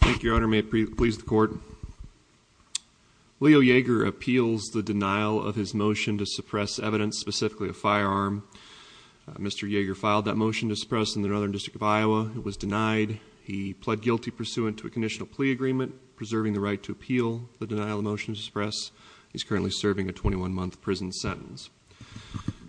Thank you, your honor. May it please the court. Leo Yeager appeals the denial of his motion to suppress evidence, specifically a firearm. Mr. Yeager filed that motion to suppress in the Northern District of Iowa. It was denied. He pled guilty pursuant to a conditional plea agreement preserving the right to appeal the denial of the motion to suppress. He's currently serving a 21-month prison sentence.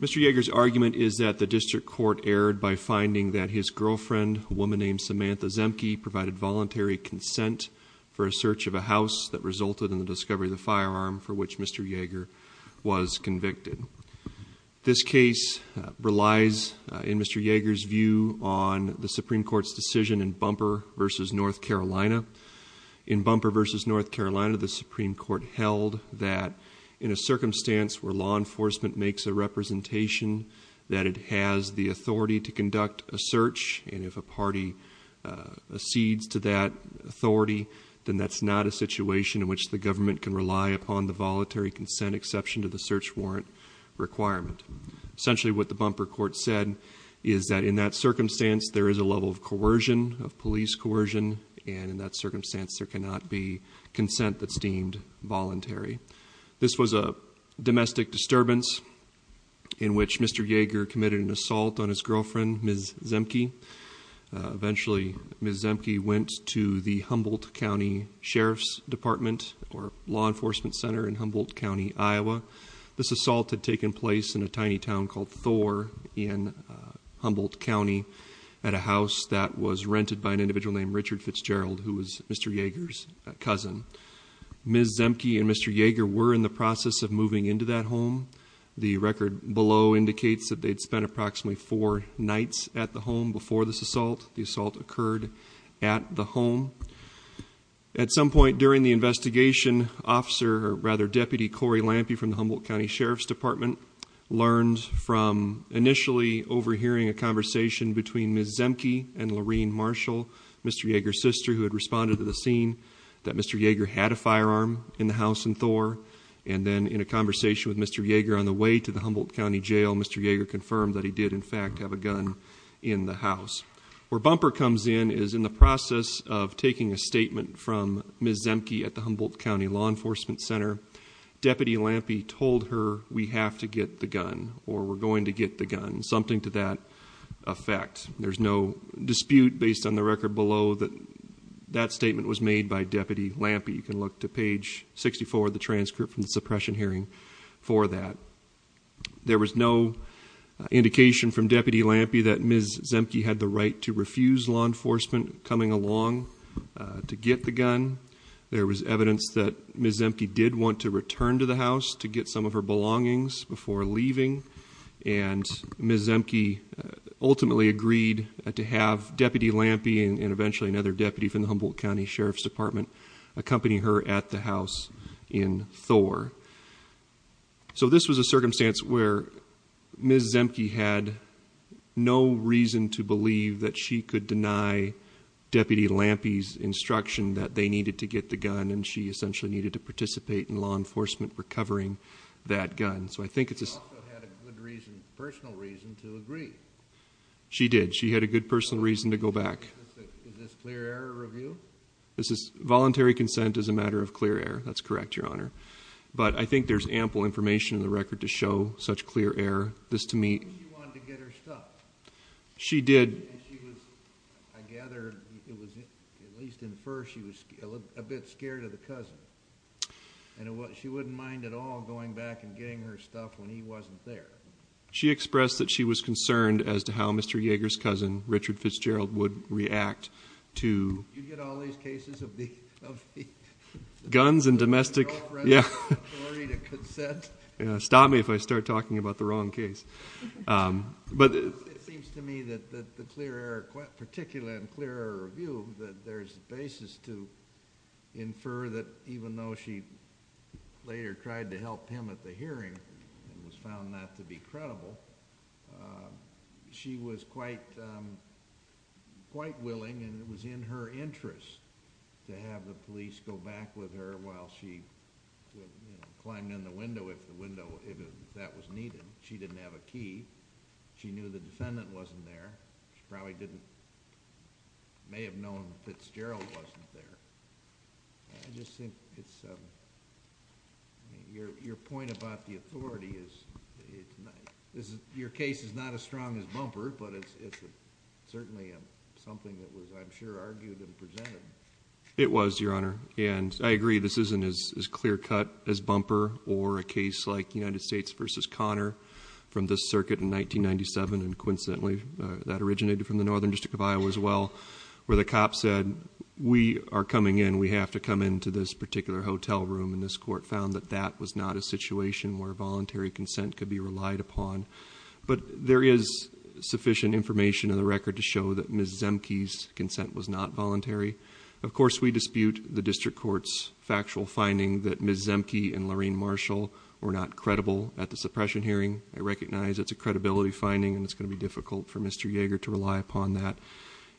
Mr. Yeager's argument is that the district court erred by finding that his girlfriend, a woman named Samantha Zemke, provided voluntary consent for a search of a house that resulted in the discovery of the firearm for which Mr. Yeager was convicted. This case relies in Mr. Yeager's view on the Supreme Court's decision in Bumper v. North Carolina. In Bumper v. North Carolina, the Supreme Court held that in a circumstance where law enforcement makes a representation that it has the authority to conduct a search, and if a party accedes to that authority, then that's not a situation in which the government can rely upon the voluntary consent exception to the search warrant requirement. Essentially what the Bumper court said is that in that circumstance there is a level of coercion, of police coercion, and in that circumstance there cannot be consent that's deemed voluntary. This was a domestic disturbance in which Mr. Yeager committed an assault on his girlfriend, Ms. Zemke. Eventually Ms. Zemke went to the Humboldt County Sheriff's Department or Law Enforcement Center in Humboldt County, Iowa. This assault had taken place in a tiny town called Thor in Humboldt County at a house that was rented by an individual named Richard Fitzgerald, who was Mr. Yeager's cousin. Ms. Zemke and Mr. Yeager were in the process of moving into that home. The record below indicates that they'd spent approximately four nights at the home before this assault. The assault occurred at the home. At some point during the investigation, Deputy Corey Lampe from the Humboldt County Sheriff's Department learned from initially overhearing a conversation between Ms. Zemke and Lorene Marshall, Mr. Yeager's sister, who had responded to the scene that Mr. Yeager had a firearm in the house in Thor, and then in a conversation with Mr. Yeager on the way to the Humboldt County Jail, Mr. Yeager confirmed that he did in fact have a gun in the house. Where Bumper comes in is in the process of taking a statement from Ms. Zemke at the Humboldt County Law Enforcement Center. Deputy Lampe told her, we have to get the gun, or we're going to get the gun, something to that effect. There's no that statement was made by Deputy Lampe. You can look to page 64 of the transcript from the suppression hearing for that. There was no indication from Deputy Lampe that Ms. Zemke had the right to refuse law enforcement coming along to get the gun. There was evidence that Ms. Zemke did want to return to the house to get some of her belongings before leaving, and Ms. Zemke ultimately agreed to have Deputy Lampe, and eventually another deputy from the Humboldt County Sheriff's Department, accompany her at the house in Thor. So this was a circumstance where Ms. Zemke had no reason to believe that she could deny Deputy Lampe's instruction that they needed to get the gun, and she essentially needed to participate in recovering that gun. So I think it's a good reason, personal reason to agree. She did. She had a good personal reason to go back. Is this clear error review? This is voluntary consent as a matter of clear error. That's correct, your honor. But I think there's ample information in the record to show such clear error. This to me, she wanted to get her stuff. She did. I gather it was at least in the first, she was a bit scared of the cousin, and she wouldn't mind at all going back and getting her stuff when he wasn't there. She expressed that she was concerned as to how Mr. Yeager's cousin, Richard Fitzgerald, would react to... You get all these cases of the... Guns and domestic, yeah. Yeah, stop me if I start talking about the wrong case. But it seems to me that the clear error, particularly in clear error review, that there's a basis to infer that even though she later tried to help him at the hearing and was found not to be credible, she was quite willing and it was in her interest to have the police go back with her while she climbed in the window if that was needed. She didn't have a key. She knew the defendant wasn't there. She probably didn't... May have known Fitzgerald wasn't there. I just think it's... Your point about the authority is... Your case is not as strong as bumper, but it's certainly something that was, I'm sure, argued and presented. It was, Your Honor, and I agree this isn't as clear-cut as bumper or a case like United States versus Conner from this circuit in 1997, and coincidentally that originated from the Northern District of Iowa as well, where the cops said, we are coming in, we have to come into this particular hotel room, and this court found that that was not a situation where voluntary consent could be relied upon. But there is sufficient information in the record to show that Ms. Of course, we dispute the district court's factual finding that Ms. Zemke and Lorraine Marshall were not credible at the suppression hearing. I recognize it's a credibility finding and it's going to be difficult for Mr. Yeager to rely upon that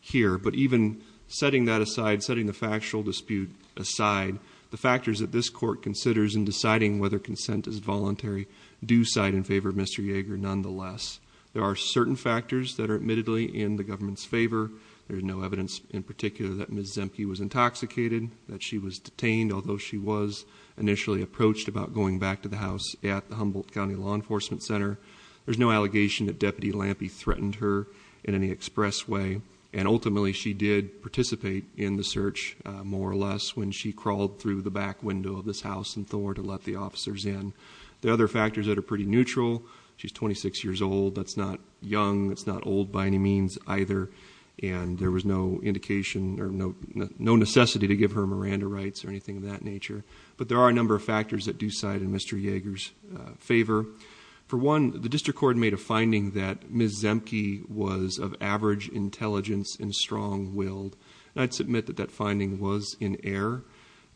here. But even setting that aside, setting the factual dispute aside, the factors that this court considers in deciding whether consent is voluntary do side in favor of Mr. Yeager nonetheless. There are certain factors that are admittedly in the government's favor. There's no evidence in particular that Ms. Zemke was intoxicated, that she was detained, although she was initially approached about going back to the house at the Humboldt County Law Enforcement Center. There's no allegation that Deputy Lampe threatened her in any express way, and ultimately she did participate in the search, more or less, when she crawled through the back window of this house in Thor to let the officers in. There are other factors that are pretty neutral. She's 26 years old, that's not young, that's not old by any means either, and there was no indication or no necessity to give her Miranda rights or anything of that nature. But there are a number of factors that do side in Mr. Yeager's favor. For one, the district court made a finding that Ms. Zemke was of average intelligence and strong-willed, and I'd submit that that finding was in error.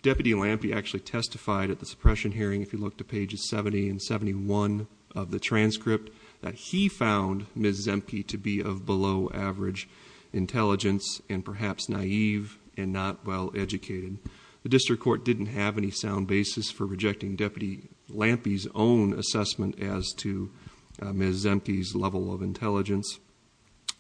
Deputy Lampe actually testified at the suppression hearing, if you look to pages 70 and 71 of the transcript, that he found Ms. Zemke to be of below-average intelligence and perhaps naive and not well-educated. The district court didn't have any sound basis for rejecting Deputy Lampe's own assessment as to Ms. Zemke's level of intelligence.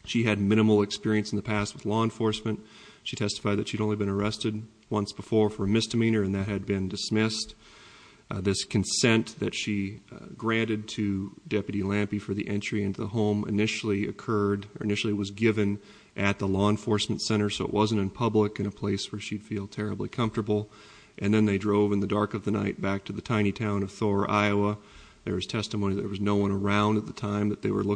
She had minimal experience in the past with law enforcement. She testified that she'd only been arrested once before for a misdemeanor, and that had been dismissed. This consent that she granted to Deputy Lampe for the entry into the home initially occurred, or initially was given, at the law enforcement center, so it wasn't in public in a place where she'd feel terribly comfortable. And then they drove in the dark of the night back to the tiny town of Thor, Iowa. There was testimony that there was no one around at the time, that they were in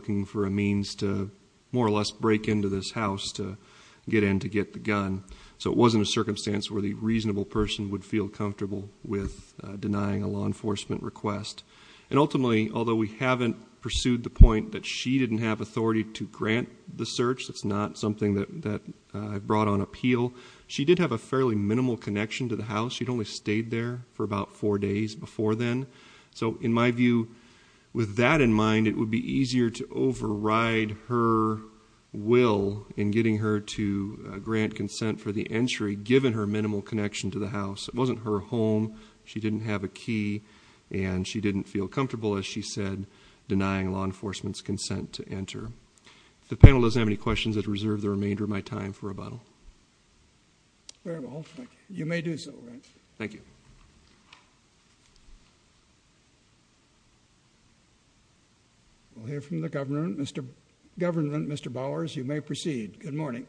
a circumstance where the reasonable person would feel comfortable with denying a law enforcement request. And ultimately, although we haven't pursued the point that she didn't have authority to grant the search, that's not something that I've brought on appeal, she did have a fairly minimal connection to the house. She'd only stayed there for about four days before then. So in my view, with that in mind, it would be easier to override her will in getting her to give her minimal connection to the house. It wasn't her home, she didn't have a key, and she didn't feel comfortable, as she said, denying law enforcement's consent to enter. If the panel doesn't have any questions, I'd reserve the remainder of my time for rebuttal. Very well. You may do so. Thank you. We'll hear from the government. Mr. Bowers, you may proceed. Good morning.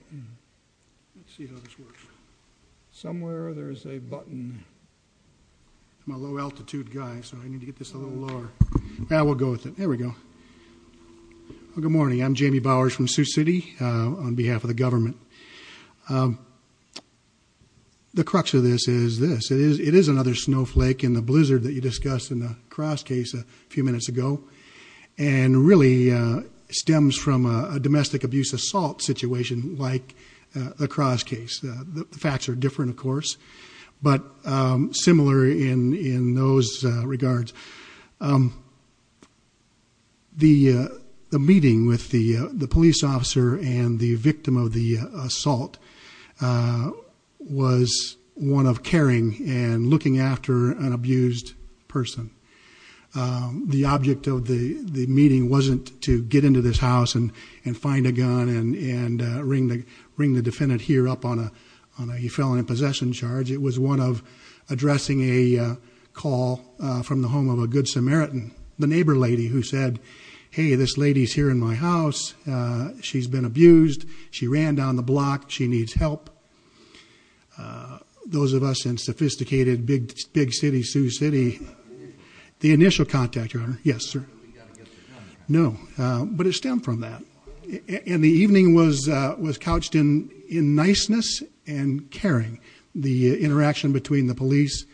Somewhere there's a button. I'm a low-altitude guy, so I need to get this a little lower. Yeah, we'll go with it. There we go. Good morning. I'm Jamie Bowers from Sioux City, on behalf of the government. The crux of this is this. It is another snowflake in the blizzard that you discussed in the Cross case a few minutes ago, and really stems from a domestic assault situation like the Cross case. The facts are different, of course, but similar in those regards. The meeting with the police officer and the victim of the assault was one of caring and looking after an abused person. The object of the meeting wasn't to get into this house and find a gun and ring the defendant here up on a felon in possession charge. It was one of addressing a call from the home of a good Samaritan, the neighbor lady, who said, hey, this lady's here in my house. She's been abused. She ran down the block. She needs help. Those of us in sophisticated, big city Sioux City. The initial contact, your honor. Yes, sir. No, but it stemmed from that. And the evening was couched in niceness and caring. The interaction between the police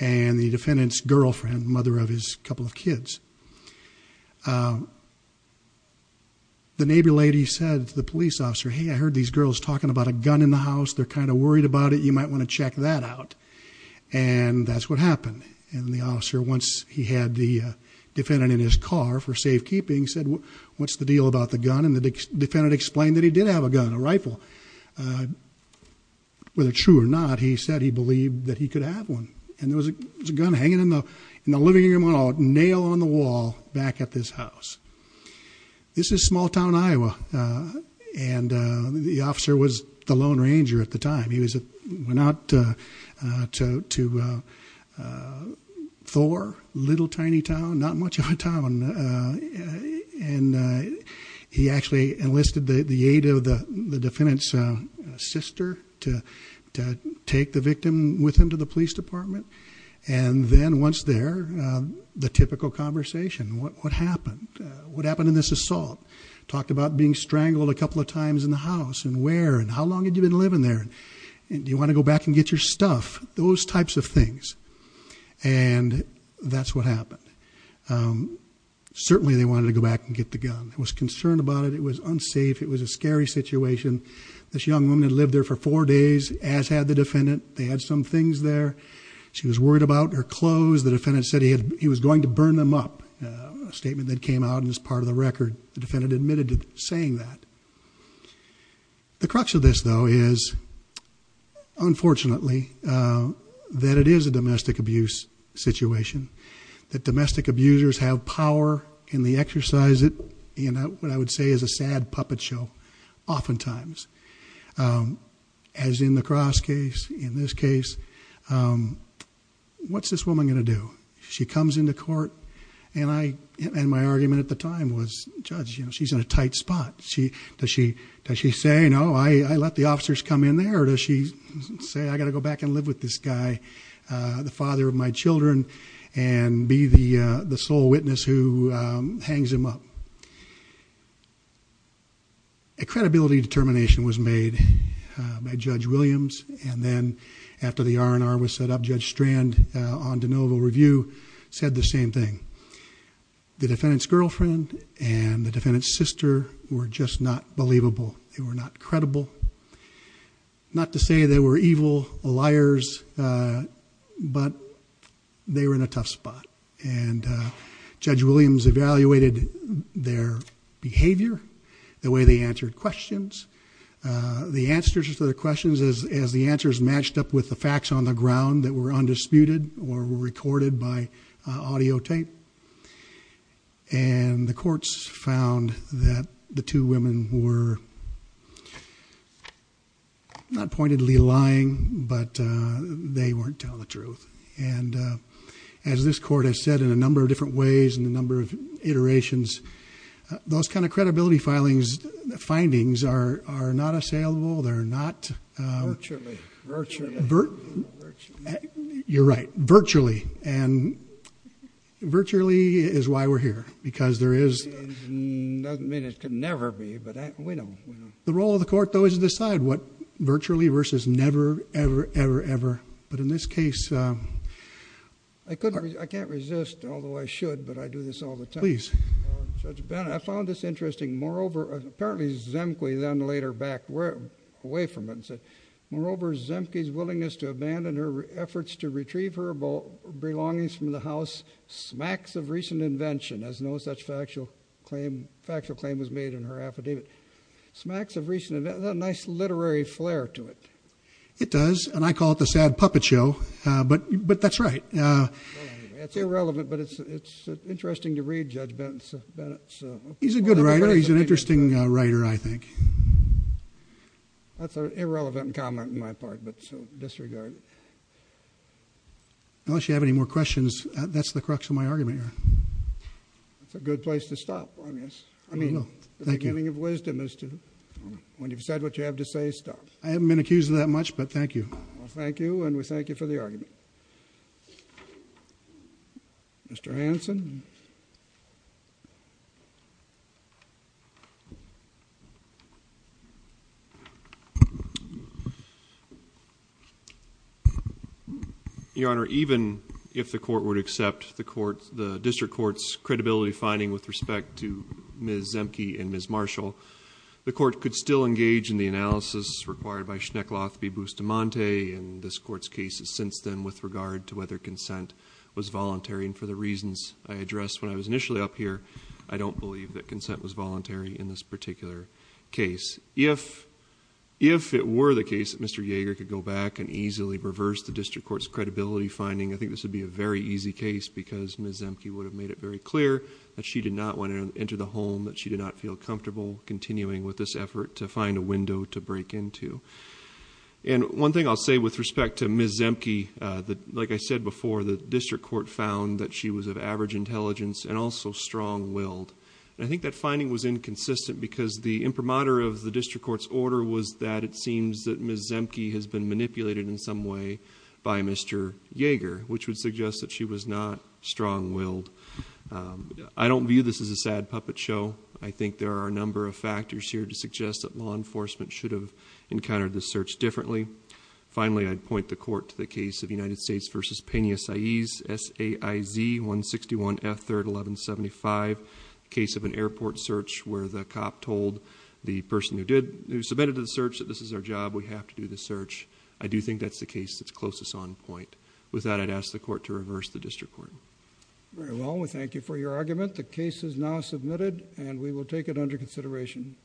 and the defendant's girlfriend, mother of his couple of kids. The neighbor lady said to the police officer, hey, I heard these girls talking about a gun in the house. They're kind of worried about it. You might want to check that out. And that's what happened. And the officer, once he had the defendant in his car for safekeeping, said, what's the deal about the gun? And the defendant explained that he did have a gun, a rifle. Whether true or not, he said he believed that he could have one. And there was a gun hanging in the living room on a nail on the wall back at this house. This is small town Iowa. And the officer was the lone ranger at the time. He went out to Thor, little tiny town, not much of a town. And he actually enlisted the aid of the defendant's sister to take the victim with him to the police department. And then once there, the typical conversation, what happened? What happened in this assault? Talked about being strangled a couple of times in the house, and where, and how long had you been living there? And do you want to go back and get your stuff? Those types of things. And that's what happened. Certainly, they wanted to go back and get the gun. They was concerned about it. It was unsafe. It was a scary situation. This young woman had lived there for four days, as had the defendant. They had some things there. She was worried about her clothes. The defendant said he was going to burn them up, a statement that came out in this part of the record. The defendant admitted to saying that. The crux of this, though, is, unfortunately, that it is a domestic abuse situation, that domestic abusers have power in the exercise of what I would say is a sad puppet show, oftentimes. As in the Cross case, in this case, what's this woman going to do? She comes into court, and my argument at the time was, Judge, she's in a tight spot. Does she say, no, I let the officers come in there? Or does she say, I've got to go back and live with this guy, the father of my children, and be the sole witness who hangs him up? A credibility determination was made by Judge Williams, and then after the R&R was set up, Judge Strand, on de novo review, said the same thing. The defendant's girlfriend and the defendant's sister were just not believable. They were not credible. Not to say they were evil liars, but they were in a tough spot. And Judge Williams evaluated their behavior, the way they answered questions. The answers to their questions, as the answers matched up with the facts on the ground that were undisputed or were recorded by audio tape. And the courts found that the two women were not pointedly lying, but they weren't telling the truth. And as this court has said in a number of different ways, in a number of iterations, those kind of credibility findings are not assailable. They're not- Virtually. Virtually. You're right. Virtually. And virtually is why we're here, because there is- Doesn't mean it could never be, but we know. The role of the court, though, is to decide what virtually versus never, ever, ever, ever. But in this case- I can't resist, although I should, but I do this all the time. Please. Judge Bennett, I found this interesting. Moreover, apparently Zemke then laid her back away from it and said, moreover, Zemke's willingness to abandon her efforts to retrieve her belongings from the house, smacks of recent invention, as no such factual claim was made in her affidavit. Smacks of recent- A nice literary flair to it. It does, and I call it the sad puppet show, but that's right. It's irrelevant, but it's interesting to read, Judge Bennett. He's a good writer. He's an interesting writer, I think. That's an irrelevant comment on my part, but disregard. Unless you have any more questions, that's the crux of my argument here. That's a good place to stop, I guess. I mean, the beginning of wisdom is to, when you've said what you have to say, stop. I haven't been accused of that much, but thank you. Well, thank you, and we thank you for the argument. Mr. Hanson. Your Honor, even if the court would accept the district court's credibility finding with respect to Ms. Zemke and Ms. Marshall, the court could still engage in the analysis required by Schneckloth v. Bustamante and this court's cases since then with regard to whether consent was voluntary, and for the reasons I addressed when I was initially up here, I don't believe that consent was voluntary in this particular case. If it were the case that Mr. Yeager could go back and easily reverse the district court's credibility finding, I think this would be a very easy case because Ms. Zemke would have made it very clear that she did not want to enter the home, that she did not feel comfortable continuing with this effort to find a window to break into. One thing I'll say with respect to Ms. Zemke, like I said before, the district court found that she was of average intelligence and also strong-willed. I think that finding was inconsistent because the imprimatur of the district court's order was that it seems that Ms. Zemke had been manipulated in some way by Mr. Yeager, which would suggest that she was not strong-willed. I don't view this as a sad puppet show. I think there are a number of factors here to suggest that law enforcement should have encountered this search differently. Finally, I'd point the court to the case of United States v. Pena-Saiz, S-A-I-Z 161F 3rd 1175, a case of an airport search where the cop told the person who submitted to the search that this is their job, we have to do the search. I do think that's the case that's closest on point. With that, I'd ask the court to reverse the district court. Very well, we thank you for your argument. The case is now submitted and we will take it under consideration.